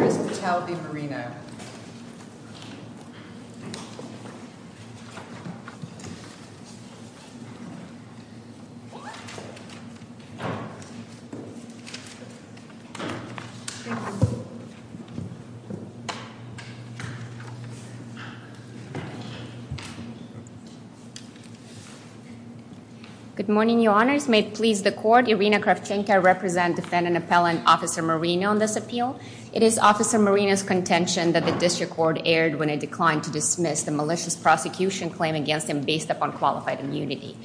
Ms. Patel v. Moreno Good morning, your honors. May it please the court, Irina Kravchenko, I represent defendant appellant officer Moreno on this appeal. It is officer Moreno's contention that the district court erred when it declined to dismiss the malicious prosecution claim against him based upon qualified immunity.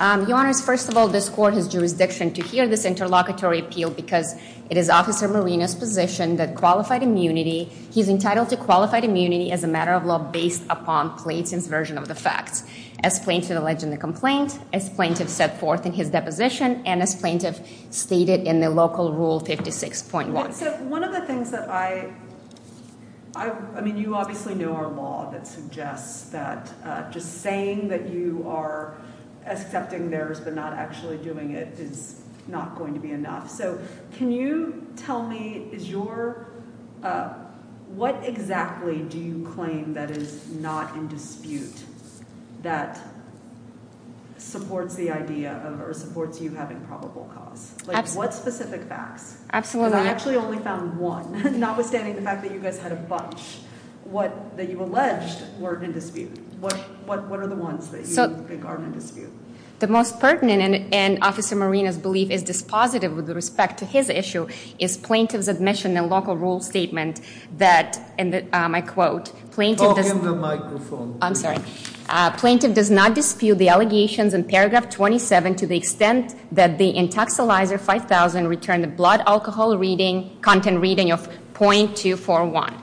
Your honors, first of all, this court has jurisdiction to hear this interlocutory appeal because it is officer Moreno's position that qualified immunity, he's entitled to qualified immunity as a matter of law based upon Plaintiff's version of the facts. As plaintiff alleged in the complaint, as plaintiff set forth in his deposition, and as plaintiff stated in the local rule 56.1. So one of the things that I, I mean, you obviously know our law that suggests that just saying that you are accepting theirs but not actually doing it is not going to be enough. So can you tell me is your, uh, what exactly do you claim that is not in dispute that supports the idea of or supports you having probable cause? Like what specific facts, because I actually only found one, notwithstanding the fact that you guys had a bunch that you alleged weren't in dispute. What, what, what are the ones that you think aren't in dispute? The most pertinent and, and officer Moreno's belief is dispositive with respect to his issue is plaintiff's admission in local rule statement that, and I quote, plaintiff does- Talk in the microphone. I'm sorry. Plaintiff does not dispute the allegations in paragraph 27 to the extent that the intoxilizer 5000 returned a blood alcohol reading, content reading of 0.241.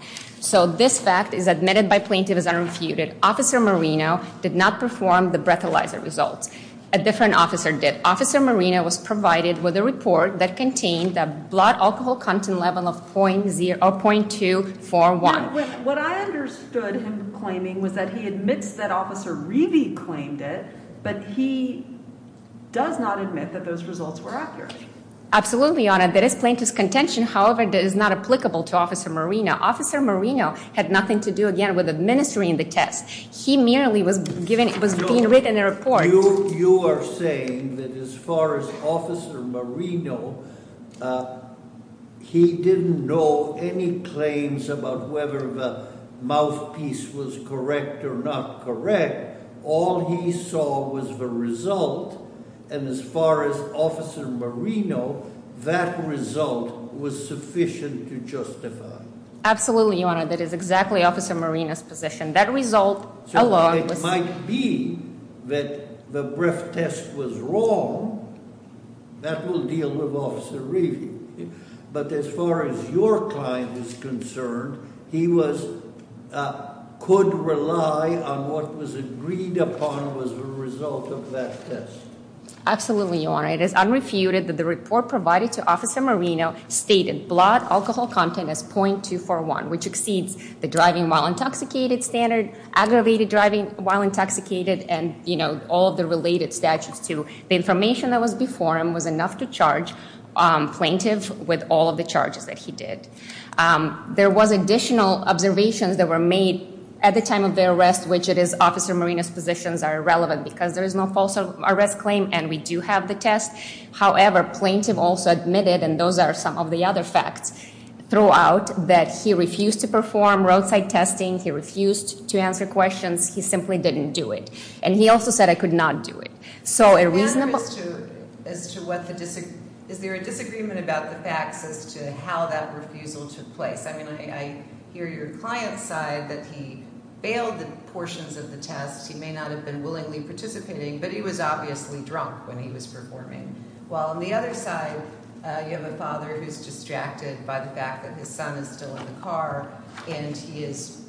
So this fact is admitted by plaintiff as unrefuted. Officer Moreno did not perform the breathalyzer results. A different officer did. Officer Moreno was provided with a report that contained a blood alcohol content level of 0.0, 0.241. What I understood him claiming was that he admits that officer Reevey claimed it, but he does not admit that those results were accurate. Absolutely, your honor. That is plaintiff's contention. However, that is not applicable to officer Moreno. Officer Moreno had nothing to do again with administering the test. He merely was given, was being written a report. You are saying that as far as officer Moreno, he didn't know any claims about whether the mouthpiece was correct or not correct. All he saw was the result, and as far as officer Moreno, that result was sufficient to justify. Absolutely, your honor. That is exactly officer Moreno's position. That result alone was- So it might be that the breath test was wrong, that will deal with officer Reevey. But as far as your client is concerned, he was, could rely on what was agreed upon was the result of that test. Absolutely, your honor. It is unrefuted that the report provided to officer Moreno stated blood alcohol content as 0.241, which exceeds the driving while intoxicated standard, aggravated driving while intoxicated, and all of the related statutes to the information that was before him was enough to charge plaintiff with all of the charges that he did. There was additional observations that were made at the time of the arrest, as which it is officer Moreno's positions are irrelevant because there is no false arrest claim and we do have the test. However, plaintiff also admitted, and those are some of the other facts throughout, that he refused to perform roadside testing, he refused to answer questions, he simply didn't do it. And he also said I could not do it. So a reasonable- Your honor, is there a disagreement about the facts as to how that refusal took place? I mean, I hear your client's side that he bailed the portions of the test. He may not have been willingly participating, but he was obviously drunk when he was performing. While on the other side, you have a father who's distracted by the fact that his son is still in the car, and he is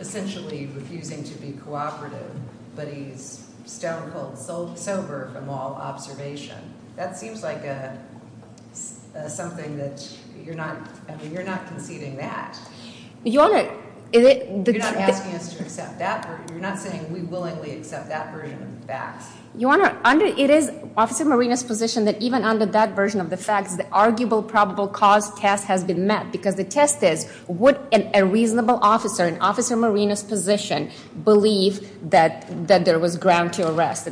essentially refusing to be cooperative, but he's stone-cold sober from all observation. That seems like something that you're not conceding that. You're not asking us to accept that, you're not saying we willingly accept that version of the facts. Your honor, it is officer Moreno's position that even under that version of the facts, the arguable probable cause test has been met, because the test is, would a reasonable officer in officer Moreno's position believe that there was ground to arrest?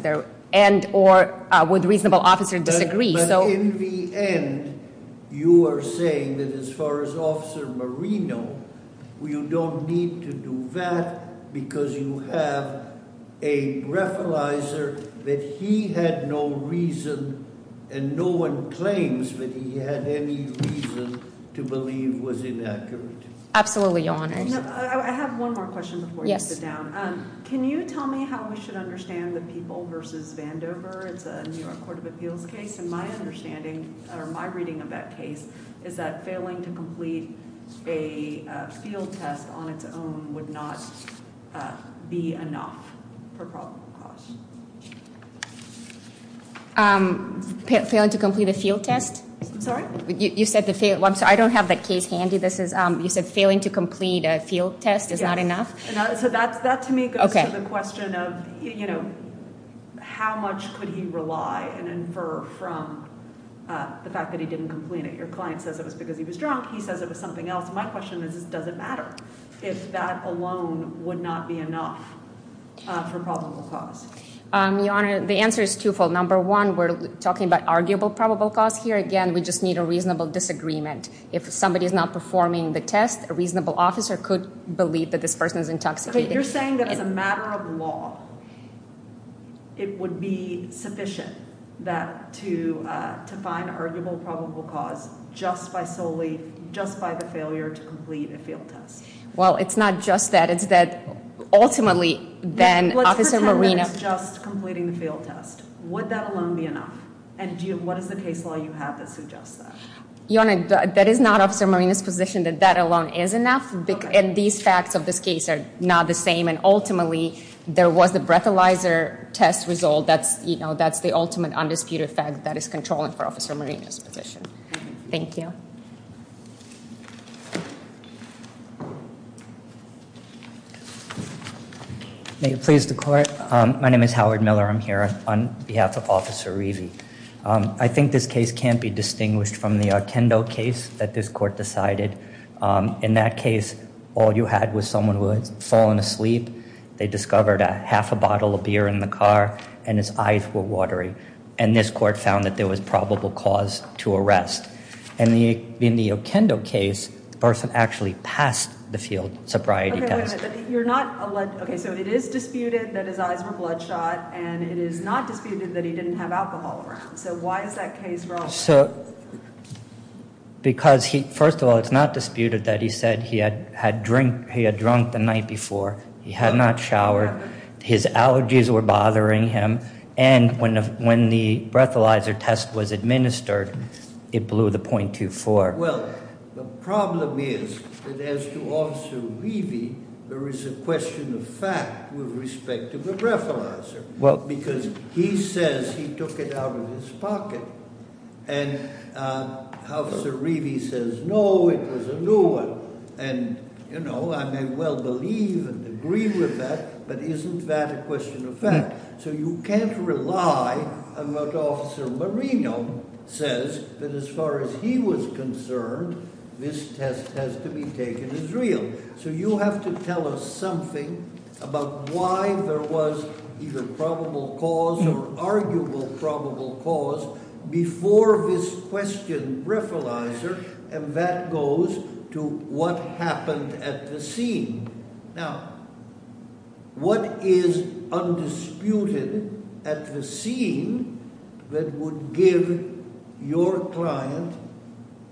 And or would a reasonable officer disagree? So- But in the end, you are saying that as far as Officer Moreno, you don't need to do that because you have a referralizer that he had no reason and no one claims that he had any reason to believe was inaccurate. Absolutely, your honor. I have one more question before you sit down. Can you tell me how we should understand the people versus Vandover? It's a New York Court of Appeals case, and my understanding, or my reading of that case, is that failing to complete a field test on its own would not be enough for probable cause. Failing to complete a field test? I'm sorry? You said the field, I'm sorry, I don't have that case handy. This is, you said failing to complete a field test is not enough? So that to me goes to the question of, you know, how much could he rely and infer from the fact that he didn't complete it? Your client says it was because he was drunk, he says it was something else. My question is, does it matter if that alone would not be enough for probable cause? Your honor, the answer is twofold. Number one, we're talking about arguable probable cause here. Again, we just need a reasonable disagreement. If somebody is not performing the test, a reasonable officer could believe that this person is intoxicated. You're saying that as a matter of law, it would be sufficient that to find arguable probable cause just by solely, just by the failure to complete a field test. Well, it's not just that. It's that ultimately, then, Officer Marina- Let's pretend that it's just completing the field test. Would that alone be enough? And what is the case law you have that suggests that? Your honor, that is not Officer Marina's position that that alone is enough. And these facts of this case are not the same. And ultimately, there was the breathalyzer test result. That's, you know, that's the ultimate undisputed fact that is controlling for Officer Marina's position. Thank you. May it please the court. My name is Howard Miller. I'm here on behalf of Officer Rivi. I think this case can't be distinguished from the Okendo case that this court decided. In that case, all you had was someone who had fallen asleep. They discovered a half a bottle of beer in the car and his eyes were watery. And this court found that there was probable cause to arrest. And in the Okendo case, the person actually passed the field sobriety test. You're not allowed. OK, so it is disputed that his eyes were bloodshot and it is not disputed that he didn't have alcohol around. So why is that case wrong? So because he, first of all, it's not disputed that he said he had drunk the night before. He had not showered. His allergies were bothering him. And when the breathalyzer test was administered, it blew the 0.24. Well, the problem is that as to Officer Rivi, there is a question of fact with respect to the breathalyzer. Because he says he took it out of his pocket. And Officer Rivi says, no, it was a new one. And, you know, I may well believe and agree with that, but isn't that a question of fact? So you can't rely on what Officer Marino says that as far as he was concerned, this test has to be taken as real. So you have to tell us something about why there was either probable cause or arguable probable cause before this question breathalyzer. And that goes to what happened at the scene. Now, what is undisputed at the scene that would give your client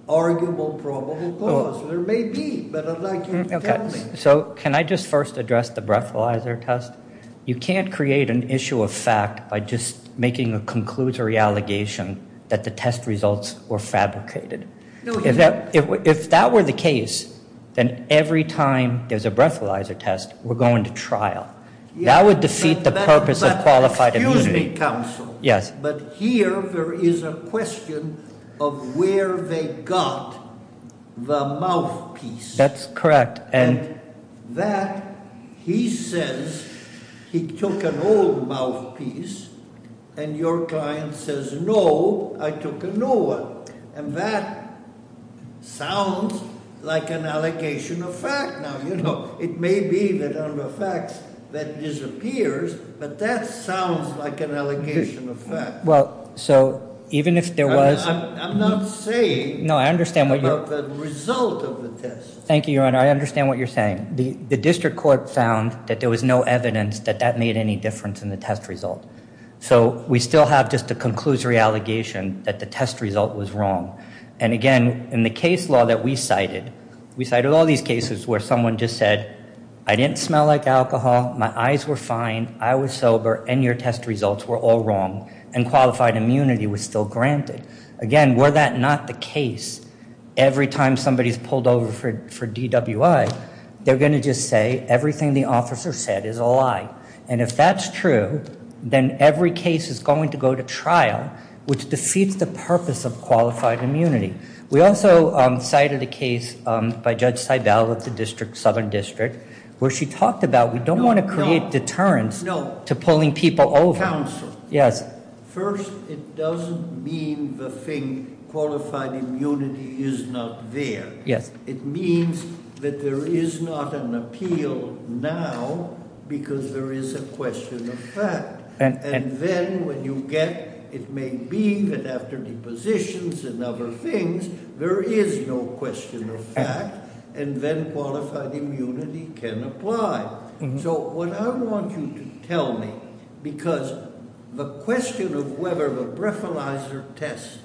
arguable probable cause? There may be, but I'd like you to tell me. So can I just first address the breathalyzer test? You can't create an issue of fact by just making a conclusory allegation that the test results were fabricated. If that were the case, then every time there's a breathalyzer test, we're going to trial. That would defeat the purpose of qualified immunity. Yes. But here there is a question of where they got the mouthpiece. That's correct. And that, he says, he took an old mouthpiece and your client says, no, I took a new one. And that sounds like an allegation of fact. Now, you know, it may be that on the facts that disappears, but that sounds like an allegation of fact. Well, so even if there was... I'm not saying about the result of the test. Thank you, Your Honor. I understand what you're saying. The district court found that there was no evidence that that made any difference in the test result. So we still have just a conclusory allegation that the test result was wrong. And again, in the case law that we cited, we cited all these cases where someone just said, I didn't smell like alcohol, my eyes were fine, I was sober, and your test results were all wrong, and qualified immunity was still granted. Again, were that not the case, every time somebody's pulled over for DWI, they're going to just say everything the officer said is a lie. And if that's true, then every case is going to go to trial, which defeats the purpose of qualified immunity. We also cited a case by Judge Seibel at the Southern District, where she talked about we don't want to create deterrence to pulling people over. No, counsel. Yes. First, it doesn't mean the thing qualified immunity is not there. Yes. It means that there is not an appeal now, because there is a question of fact. And then when you get, it may be that after depositions and other things, there is no question of fact, and then qualified immunity can apply. So what I want you to tell me, because the question of whether a breathalyzer test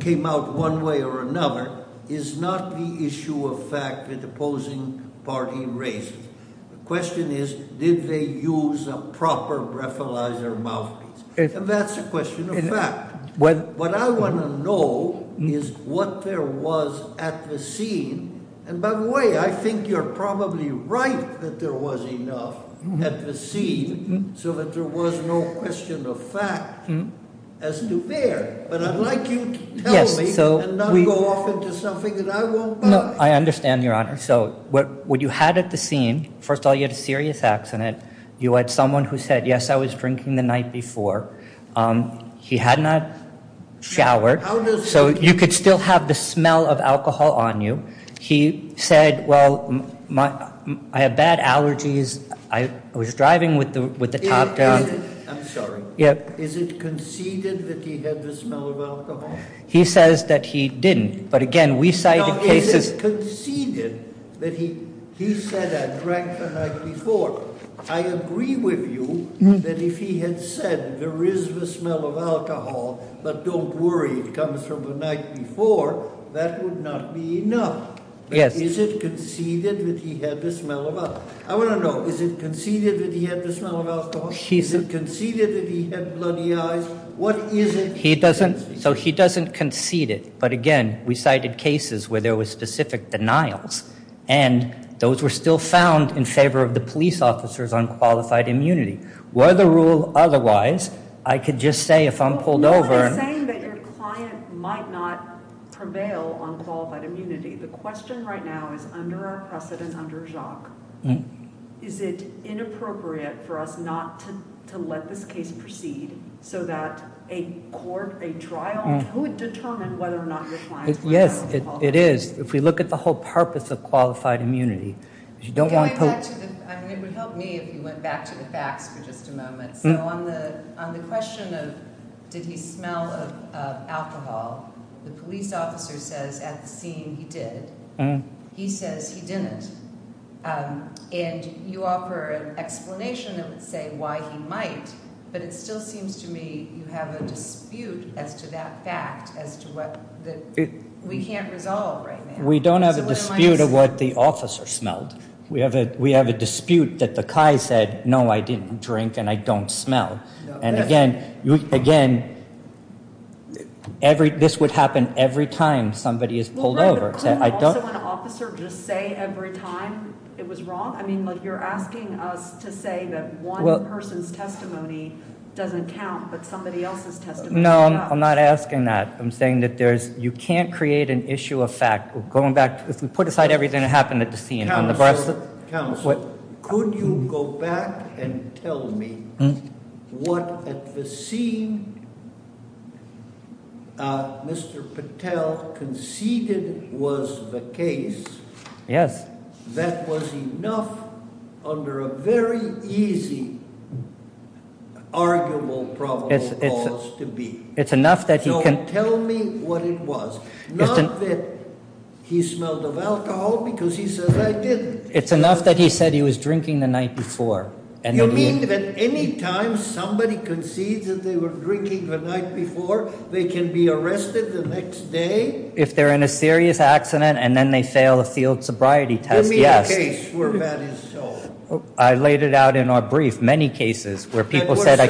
came out one way or another, is not the issue of fact that the opposing party raised. The question is, did they use a proper breathalyzer mouthpiece? And that's a question of fact. What I want to know is what there was at the scene. And by the way, I think you're probably right that there was enough at the scene, so that there was no question of fact as to there. But I'd like you to tell me, and not go off into something that I won't buy. I understand, Your Honor. So what you had at the scene, first of all, you had a serious accident. You had someone who said, yes, I was drinking the night before. He had not showered, so you could still have the smell of alcohol on you. He said, well, I have bad allergies. I was driving with the top down. I'm sorry. Yep. Is it conceded that he had the smell of alcohol? He says that he didn't. But again, we cite the cases- Is it conceded that he said I drank the night before? I agree with you that if he had said there is the smell of alcohol, but don't worry, it comes from the night before, that would not be enough. Yes. Is it conceded that he had the smell of alcohol? I want to know, is it conceded that he had the smell of alcohol? Is it conceded that he had bloody eyes? What is it- He doesn't, so he doesn't concede it. But again, we cited cases where there was specific denials, and those were still found in favor of the police officers on qualified immunity. Were the rule otherwise, I could just say if I'm pulled over- When you're saying that your client might not prevail on qualified immunity, the question right now is under our precedent, under Jacques, is it inappropriate for us not to let this case proceed so that a court, a trial could determine whether or not your client- Yes, it is. If we look at the whole purpose of qualified immunity, you don't want to- It would help me if you went back to the facts for just a moment. So on the question of did he smell of alcohol, the police officer says at the scene he did. He says he didn't. And you offer an explanation that would say why he might, but it still seems to me you have a dispute as to that fact, as to what we can't resolve right now. We don't have a dispute of what the officer smelled. We have a dispute that the CHI said, no, I didn't drink and I don't smell. And again, this would happen every time somebody is pulled over. Couldn't also an officer just say every time it was wrong? I mean, like you're asking us to say that one person's testimony doesn't count, but somebody else's testimony does. No, I'm not asking that. I'm saying that you can't create an issue of fact. Going back, if we put aside everything that happened at the scene- Counsel, could you go back and tell me what at the scene Mr. Patel conceded was the case? Yes. That was enough under a very easy arguable problem for us to be. It's enough that he can- No, tell me what it was. Not that he smelled of alcohol because he says I didn't. It's enough that he said he was drinking the night before. You mean that any time somebody concedes that they were drinking the night before, they can be arrested the next day? If they're in a serious accident and then they fail a field sobriety test, yes. Give me a case where that is so. I laid it out in our brief, many cases where people said I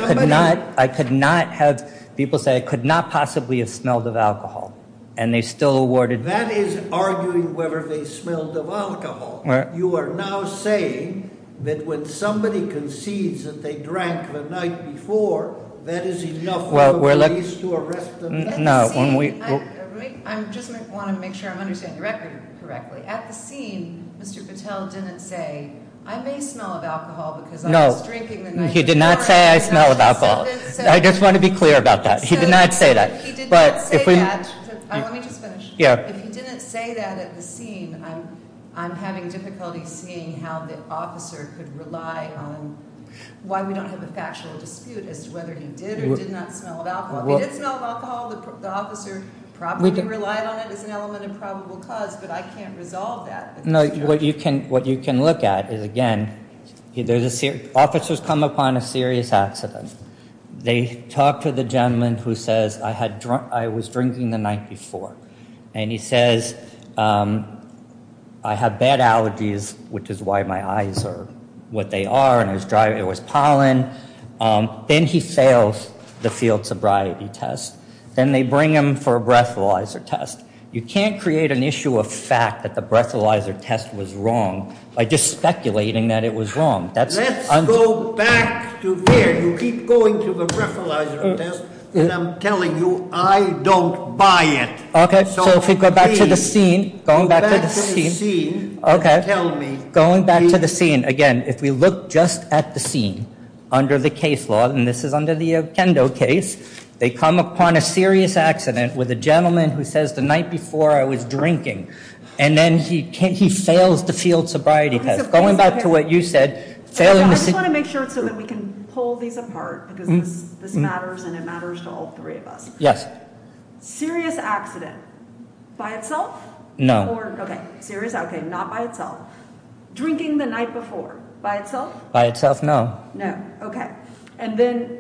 could not have, people say I could not possibly have smelled of alcohol and they still awarded- That is arguing whether they smelled of alcohol. You are now saying that when somebody concedes that they drank the night before, that is enough for the police to arrest them? At the scene, I just want to make sure I'm understanding the record correctly. At the scene, Mr. Patel didn't say I may smell of alcohol because I was drinking the night before. He did not say I smell of alcohol. I just want to be clear about that. He did not say that. He did not say that. Let me just finish. Yeah. If he didn't say that at the scene, I'm having difficulty seeing how the officer could rely on, why we don't have a factual dispute as to whether he did or did not smell of alcohol. If he did smell of alcohol, the officer probably relied on it as an element of probable cause, but I can't resolve that. No, what you can look at is, again, officers come upon a serious accident. They talk to the gentleman who says, I was drinking the night before. And he says, I have bad allergies, which is why my eyes are what they are, and it was pollen. Then he fails the field sobriety test. Then they bring him for a breathalyzer test. You can't create an issue of fact that the breathalyzer test was wrong by just speculating that it was wrong. That's- Let's go back to here. You keep going to the breathalyzer test, and I'm telling you, I don't buy it. Okay, so if we go back to the scene. Going back to the scene. Okay, going back to the scene. Again, if we look just at the scene under the case law, and this is under the Okendo case, they come upon a serious accident with a gentleman who says, the night before, I was drinking. And then he fails the field sobriety test. Going back to what you said. I just want to make sure so that we can pull these apart, because this matters, and it matters to all three of us. Yes. Serious accident. By itself? No. Okay, serious, okay, not by itself. Drinking the night before. By itself? By itself, no. No, okay. And then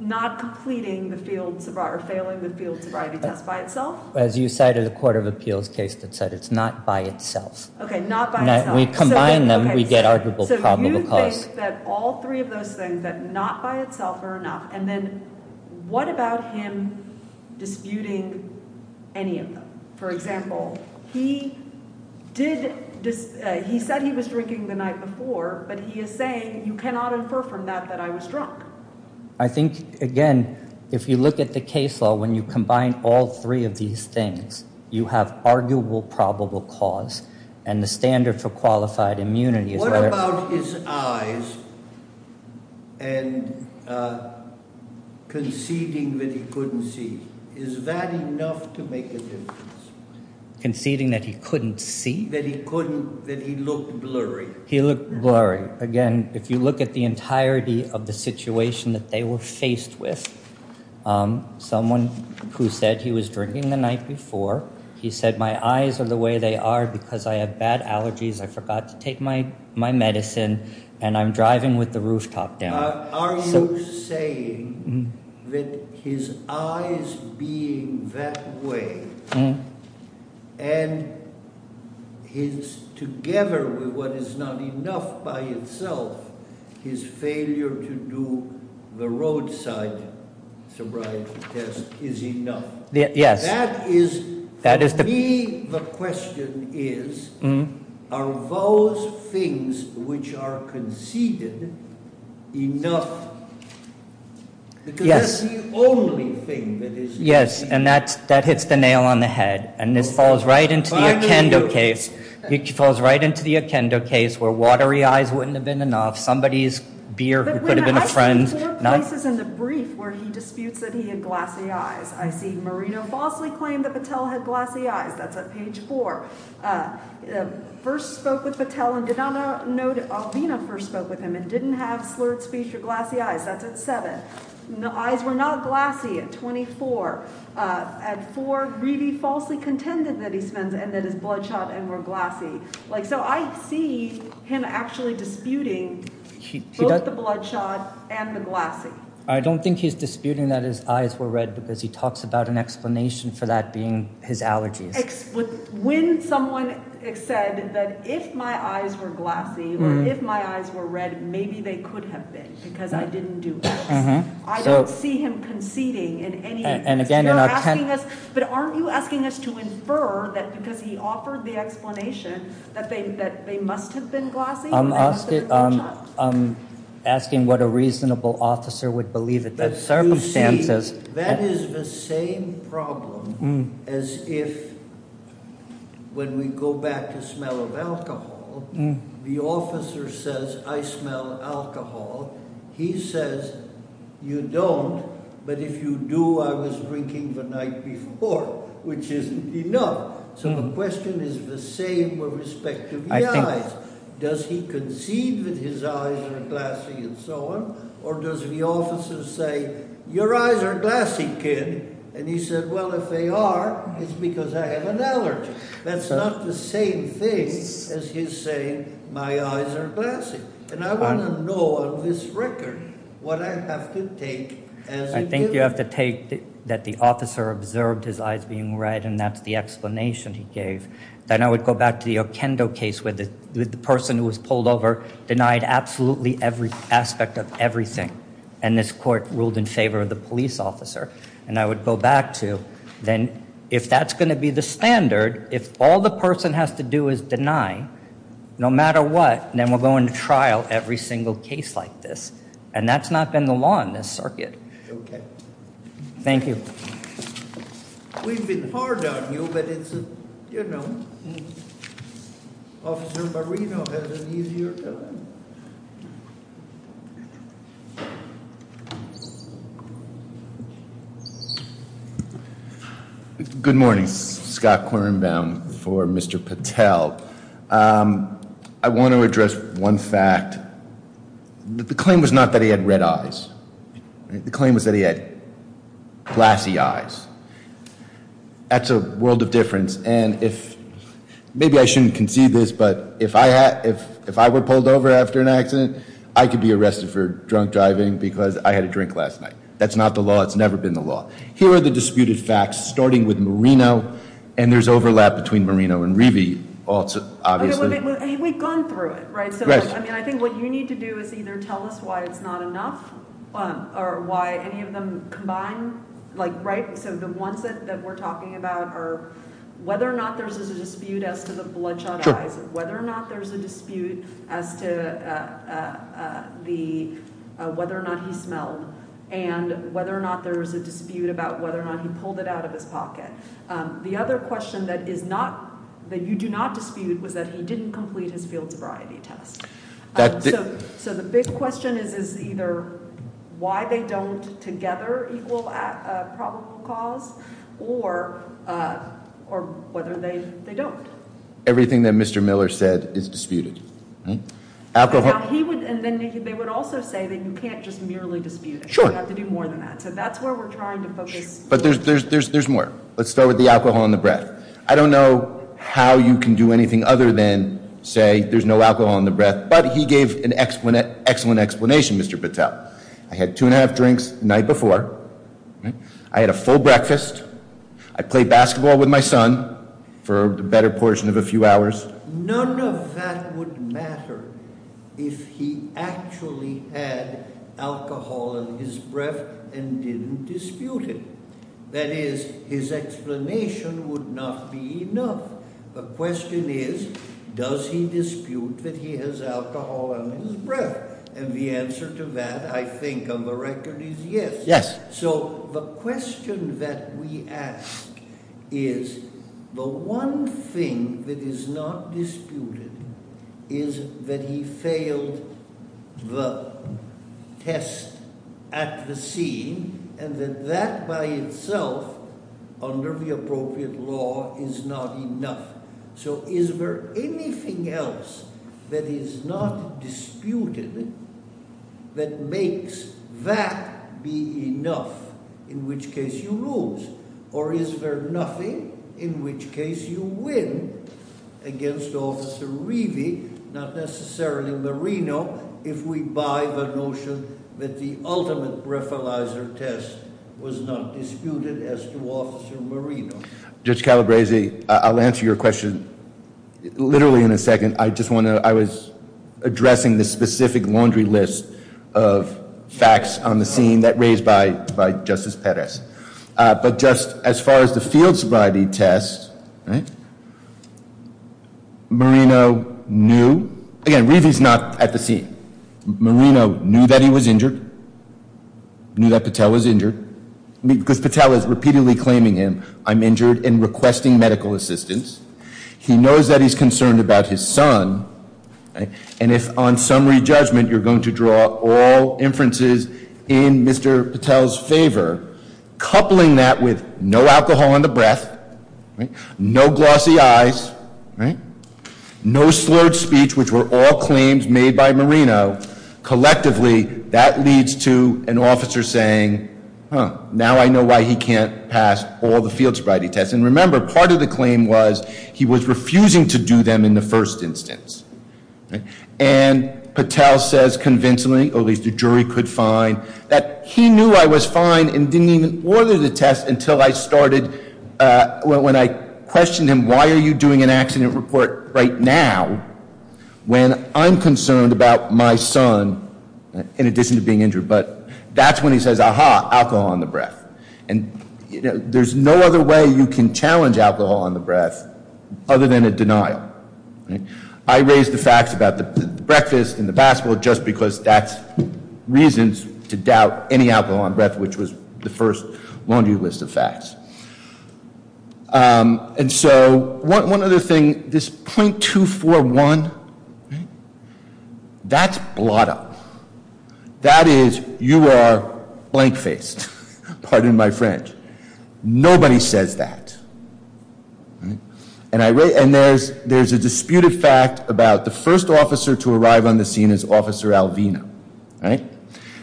not completing the field sobriety, or failing the field sobriety test by itself? As you cited, a court of appeals case that said it's not by itself. Okay, not by itself. We combine them, we get arguable probable cause. That all three of those things, that not by itself are enough, and then what about him disputing any of them? For example, he said he was drinking the night before, but he is saying, you cannot infer from that that I was drunk. I think, again, if you look at the case law, when you combine all three of these things, you have arguable probable cause, and the standard for qualified immunity. What about his eyes, and conceding that he couldn't see? Is that enough to make a difference? Conceding that he couldn't see? That he couldn't, that he looked blurry. He looked blurry. Again, if you look at the entirety of the situation that they were faced with, someone who said he was drinking the night before, he said my eyes are the way they are because I have bad allergies. I forgot to take my medicine, and I'm driving with the rooftop down. Are you saying that his eyes being that way, and his, together with what is not enough by itself, his failure to do the roadside sobriety test is enough? Yes. That is, to me, the question is, are those things which are conceded enough? Yes. Because that's the only thing that is conceded. Yes, and that hits the nail on the head, and this falls right into the Akendo case. It falls right into the Akendo case, where watery eyes wouldn't have been enough. Somebody's beer could have been a friend. I see four places in the brief where he disputes that he had glassy eyes. I see Marino falsely claimed that Patel had glassy eyes. That's at page four. First spoke with Patel and did not know that Alvina first spoke with him and didn't have slurred speech or glassy eyes. That's at seven. The eyes were not glassy at 24. At four, Greedy falsely contended that he spends and that his bloodshot and were glassy. So I see him actually disputing both the bloodshot and the glassy. I don't think he's disputing that his eyes were red because he talks about an explanation for that being his allergies. When someone said that if my eyes were glassy or if my eyes were red, maybe they could have been because I didn't do this. I don't see him conceding in any way. But aren't you asking us to infer that because he offered the explanation that they must have been glassy? I'm asking what a reasonable officer would believe in those circumstances. That is the same problem as if when we go back to smell of alcohol, the officer says, I smell alcohol. He says, you don't, but if you do, I was drinking the night before, which isn't enough. So the question is the same with respect to the eyes. Does he concede that his eyes are glassy and so on? Or does the officer say, your eyes are glassy, kid. And he said, well, if they are, it's because I have an allergy. That's not the same thing as his saying, my eyes are glassy. And I want to know on this record what I have to take as a given. I think you have to take that the officer observed his eyes being red and that's the explanation he gave. Then I would go back to the Okendo case where the person who was pulled over denied absolutely every aspect of everything. And this court ruled in favor of the police officer. And I would go back to, then if that's going to be the standard, if all the person has to do is deny, no matter what, then we're going to trial every single case like this. And that's not been the law in this circuit. Okay. Thank you. We've been hard on you, but it's, you know, Officer Marino has an easier time. Good morning. Scott Quirinbaum for Mr. Patel. I want to address one fact. The claim was not that he had red eyes. The claim was that he had glassy eyes. That's a world of difference. And maybe I shouldn't concede this, but if I were pulled over after an accident, I could be arrested for drunk driving because I had a drink last night. That's not the law. It's never been the law. Here are the disputed facts, starting with Marino. And there's overlap between Marino and Rivi, obviously. We've gone through it, right? I mean, I think what you need to do is either tell us why it's not enough or why any of them combine. So the ones that we're talking about are whether or not there's a dispute as to the bloodshot eyes, whether or not there's a dispute as to whether or not he smelled, and whether or not there was a dispute about whether or not he pulled it out of his pocket. The other question that you do not dispute was that he didn't complete his field sobriety test. So the big question is either why they don't together equal a probable cause or whether they don't. Everything that Mr. Miller said is disputed. And then they would also say that you can't just merely dispute it. You have to do more than that. So that's where we're trying to focus. But there's more. Let's start with the alcohol in the breath. I don't know how you can do anything other than say there's no alcohol in the breath. But he gave an excellent explanation, Mr. Patel. I had two and a half drinks the night before. I had a full breakfast. I played basketball with my son for the better portion of a few hours. None of that would matter if he actually had alcohol in his breath and didn't dispute it. That is, his explanation would not be enough. The question is, does he dispute that he has alcohol in his breath? And the answer to that, I think, on the record is yes. So the question that we ask is the one thing that is not disputed is that he failed the test at the scene and that that by itself, under the appropriate law, is not enough. So is there anything else that is not disputed that makes that be enough? In which case you lose. Or is there nothing in which case you win against Officer Rivi, not necessarily Marino, if we buy the notion that the ultimate breathalyzer test was not disputed as to Officer Marino. Judge Calabresi, I'll answer your question literally in a second. I just want to, I was addressing the specific laundry list of facts on the scene that raised by Justice Perez. But just as far as the field sobriety test, Marino knew. Again, Rivi's not at the scene. Marino knew that he was injured, knew that Patel was injured. Because Patel is repeatedly claiming him, I'm injured and requesting medical assistance. He knows that he's concerned about his son. And if on summary judgment you're going to draw all inferences in Mr. Patel's favor, coupling that with no alcohol in the breath, no glossy eyes, no slurred speech, which were all claims made by Marino, collectively that leads to an officer saying, now I know why he can't pass all the field sobriety tests. And remember, part of the claim was he was refusing to do them in the first instance. And Patel says convincingly, at least the jury could find, that he knew I was fine and didn't even order the test until I started, when I questioned him, why are you doing an accident report right now, when I'm concerned about my son in addition to being injured. But that's when he says, aha, alcohol in the breath. And there's no other way you can challenge alcohol in the breath other than a denial. I raised the facts about the breakfast and the basketball just because that's reasons to doubt any alcohol in the breath, which was the first laundry list of facts. And so, one other thing, this .241, that's blot up. That is, you are blank faced, pardon my French. Nobody says that. And there's a disputed fact about the first officer to arrive on the scene is Officer Alvino. All right?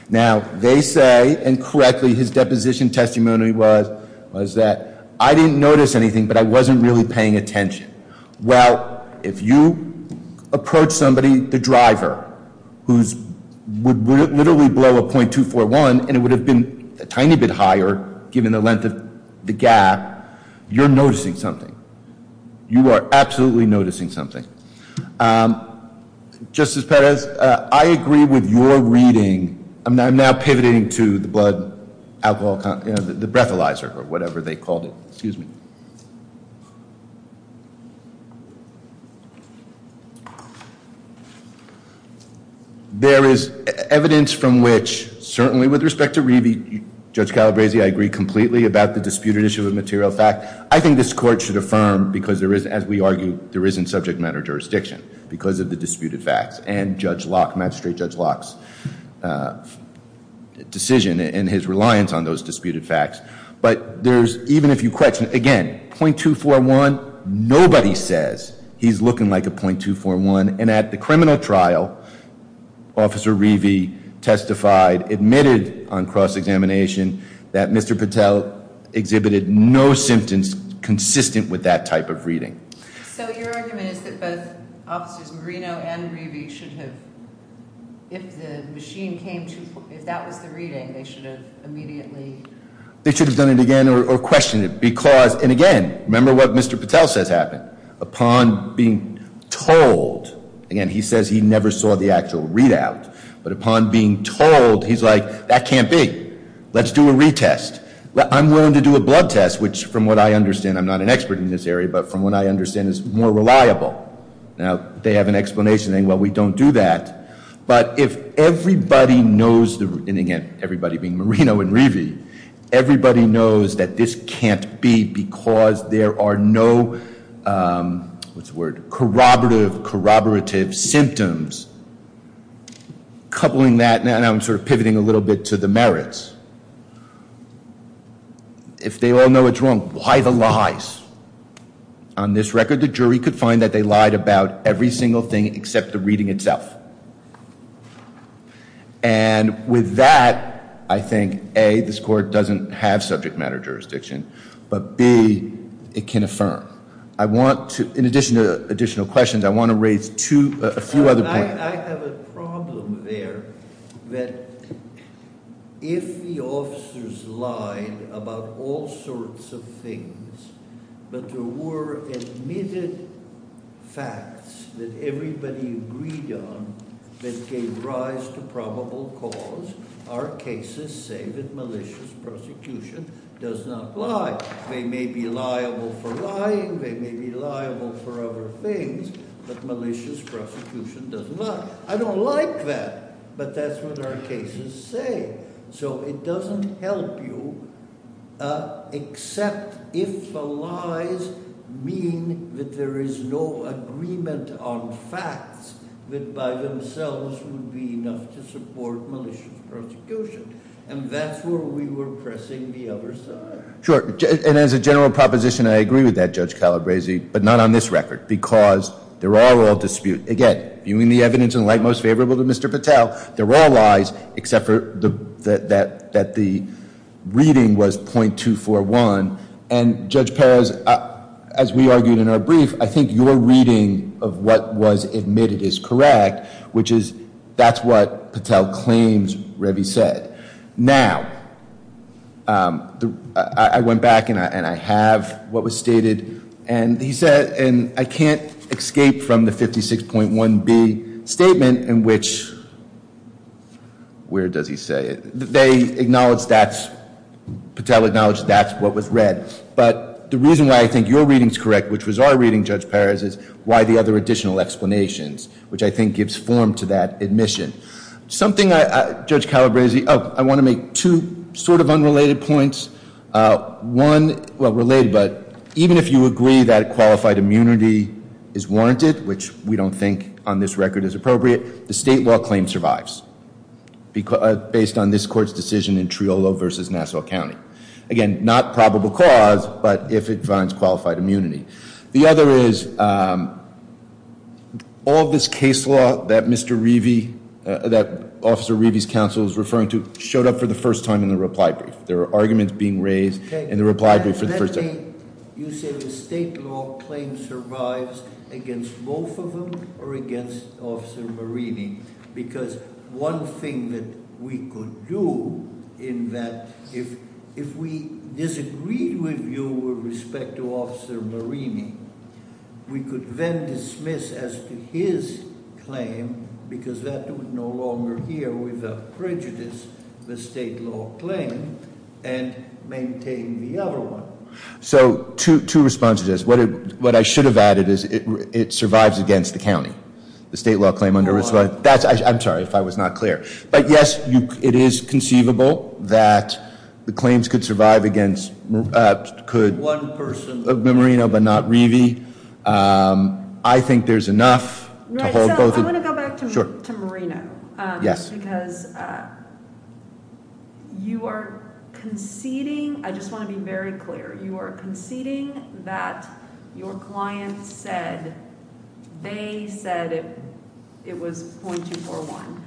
Now, they say, and correctly, his deposition testimony was that I didn't notice anything, but I wasn't really paying attention. Well, if you approach somebody, the driver, who would literally blow a .241 and it would have been a tiny bit higher, given the length of the gap, you're noticing something. You are absolutely noticing something. Justice Perez, I agree with your reading. I'm now pivoting to the blood alcohol, the breathalyzer or whatever they called it. Excuse me. There is evidence from which, certainly with respect to review, Judge Calabresi, I agree completely about the disputed issue of material fact. I think this court should affirm because there is, as we argue, there isn't subject matter jurisdiction because of the disputed facts and Judge Locke, Magistrate Judge Locke's decision and his reliance on those disputed facts. But there's, even if you question, again, .241, nobody says he's looking like a .241. And at the criminal trial, Officer Rivi testified, admitted on cross-examination, that Mr. Patel exhibited no symptoms consistent with that type of reading. So your argument is that both Officers Marino and Rivi should have, if the machine came to, if that was the reading, they should have immediately- They should have done it again or questioned it because, and again, remember what Mr. Patel says happened. Upon being told, again, he says he never saw the actual readout. But upon being told, he's like, that can't be. Let's do a retest. I'm willing to do a blood test, which from what I understand, I'm not an expert in this area, but from what I understand is more reliable. Now, they have an explanation saying, well, we don't do that. But if everybody knows, and again, everybody being Marino and Rivi, everybody knows that this can't be because there are no, what's the word, corroborative, corroborative symptoms. Coupling that, now I'm sort of pivoting a little bit to the merits. If they all know it's wrong, why the lies? On this record, the jury could find that they lied about every single thing except the reading itself. And with that, I think, A, this court doesn't have subject matter jurisdiction. But B, it can affirm. I want to, in addition to additional questions, I want to raise two, a few other points. I have a problem there that if the officers lied about all sorts of things, but there were admitted facts that everybody agreed on that gave rise to probable cause, our cases say that malicious prosecution does not lie. They may be liable for other things, but malicious prosecution does not. I don't like that, but that's what our cases say. So it doesn't help you except if the lies mean that there is no agreement on facts that by themselves would be enough to support malicious prosecution. And that's where we were pressing the other side. Sure, and as a general proposition, I agree with that, Judge Calabresi, but not on this record, because they're all dispute. Again, viewing the evidence in light most favorable to Mr. Patel, they're all lies except that the reading was .241. And Judge Perez, as we argued in our brief, I think your reading of what was admitted is correct, which is that's what Patel claims Revy said. Now, I went back and I have what was stated, and he said, and I can't escape from the 56.1B statement in which, where does he say it? They acknowledged that's, Patel acknowledged that's what was read. But the reason why I think your reading is correct, which was our reading, Judge Perez, is why the other additional explanations, which I think gives form to that admission. Something I, Judge Calabresi, oh, I want to make two sort of unrelated points. One, well, related, but even if you agree that qualified immunity is warranted, which we don't think on this record is appropriate, the state law claim survives based on this court's decision in Triolo versus Nassau County. Again, not probable cause, but if it finds qualified immunity. The other is, all of this case law that Mr. Revy, that Officer Revy's counsel is referring to, showed up for the first time in the reply brief. There were arguments being raised in the reply brief for the first time. You say the state law claim survives against both of them or against Officer Marini? Because one thing that we could do in that, if we disagreed with you with respect to Officer Marini, we could then dismiss as to his claim, because that would no longer hear without prejudice, the state law claim and maintain the other one. So, two responses to this. What I should have added is it survives against the county. The state law claim under- I'm sorry if I was not clear. But yes, it is conceivable that the claims could survive against- One person. Marino but not Revy. I think there's enough to hold both- I want to go back to Marino. Yes. Because you are conceding, I just want to be very clear. You are conceding that your client said they said it was .241.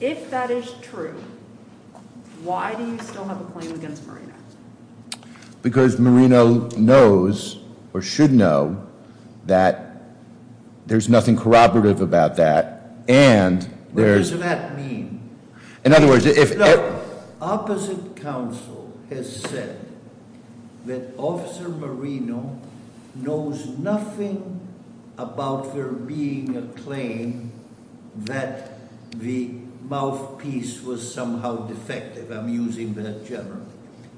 If that is true, why do you still have a claim against Marino? Because Marino knows, or should know, that there's nothing corroborative about that and there's- What does that mean? In other words, if- Opposite counsel has said that Officer Marino knows nothing about there being a claim that the mouthpiece was somehow defective. I'm using that generally.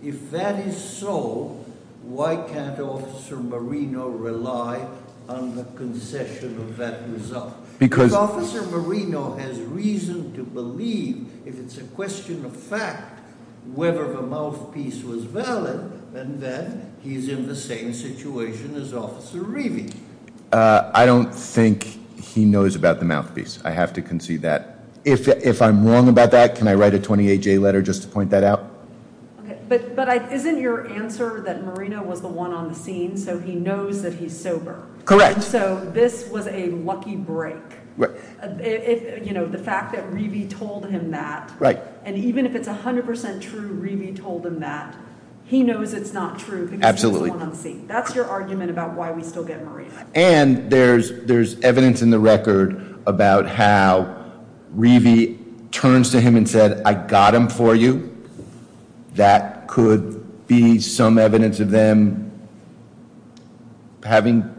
If that is so, why can't Officer Marino rely on the concession of that result? Because- If it's a question of fact, whether the mouthpiece was valid, then he's in the same situation as Officer Revy. I don't think he knows about the mouthpiece. I have to concede that. If I'm wrong about that, can I write a 28-J letter just to point that out? But isn't your answer that Marino was the one on the scene, so he knows that he's sober? Correct. So this was a lucky break. The fact that Revy told him that, and even if it's 100% true Revy told him that, he knows it's not true because he was the one on the scene. That's your argument about why we still get Marino. And there's evidence in the record about how Revy turns to him and said, I got him for you. That could be some evidence of them having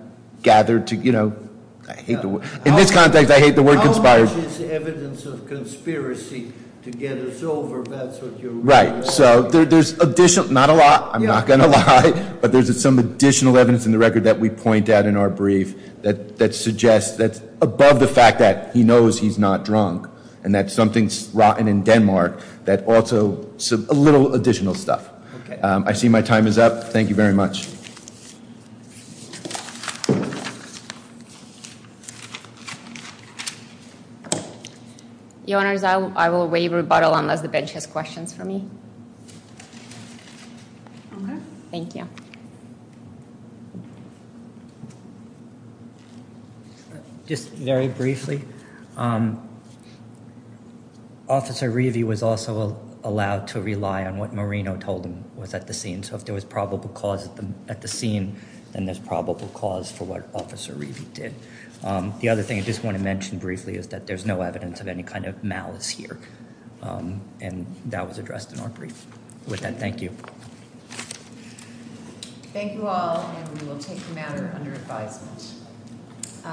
gathered to- In this context, I hate the word conspired. How much is evidence of conspiracy to get us over? That's what you're- Right, so there's additional, not a lot. I'm not going to lie. But there's some additional evidence in the record that we point out in our brief that suggests that's above the fact that he knows he's not drunk. And that something's rotten in Denmark that also, a little additional stuff. Okay. I see my time is up. Thank you very much. Your Honors, I will waive rebuttal unless the bench has questions for me. Okay. Thank you. Just very briefly, Officer Revy was also allowed to rely on what Marino told him was at the scene. So if there was probable cause at the scene, then there's probable cause for what Officer Revy did. The other thing I just want to mention briefly is that there's no evidence of any kind of malice here. And that was addressed in our brief. With that, thank you. Thank you all. And we will take the matter under advisement.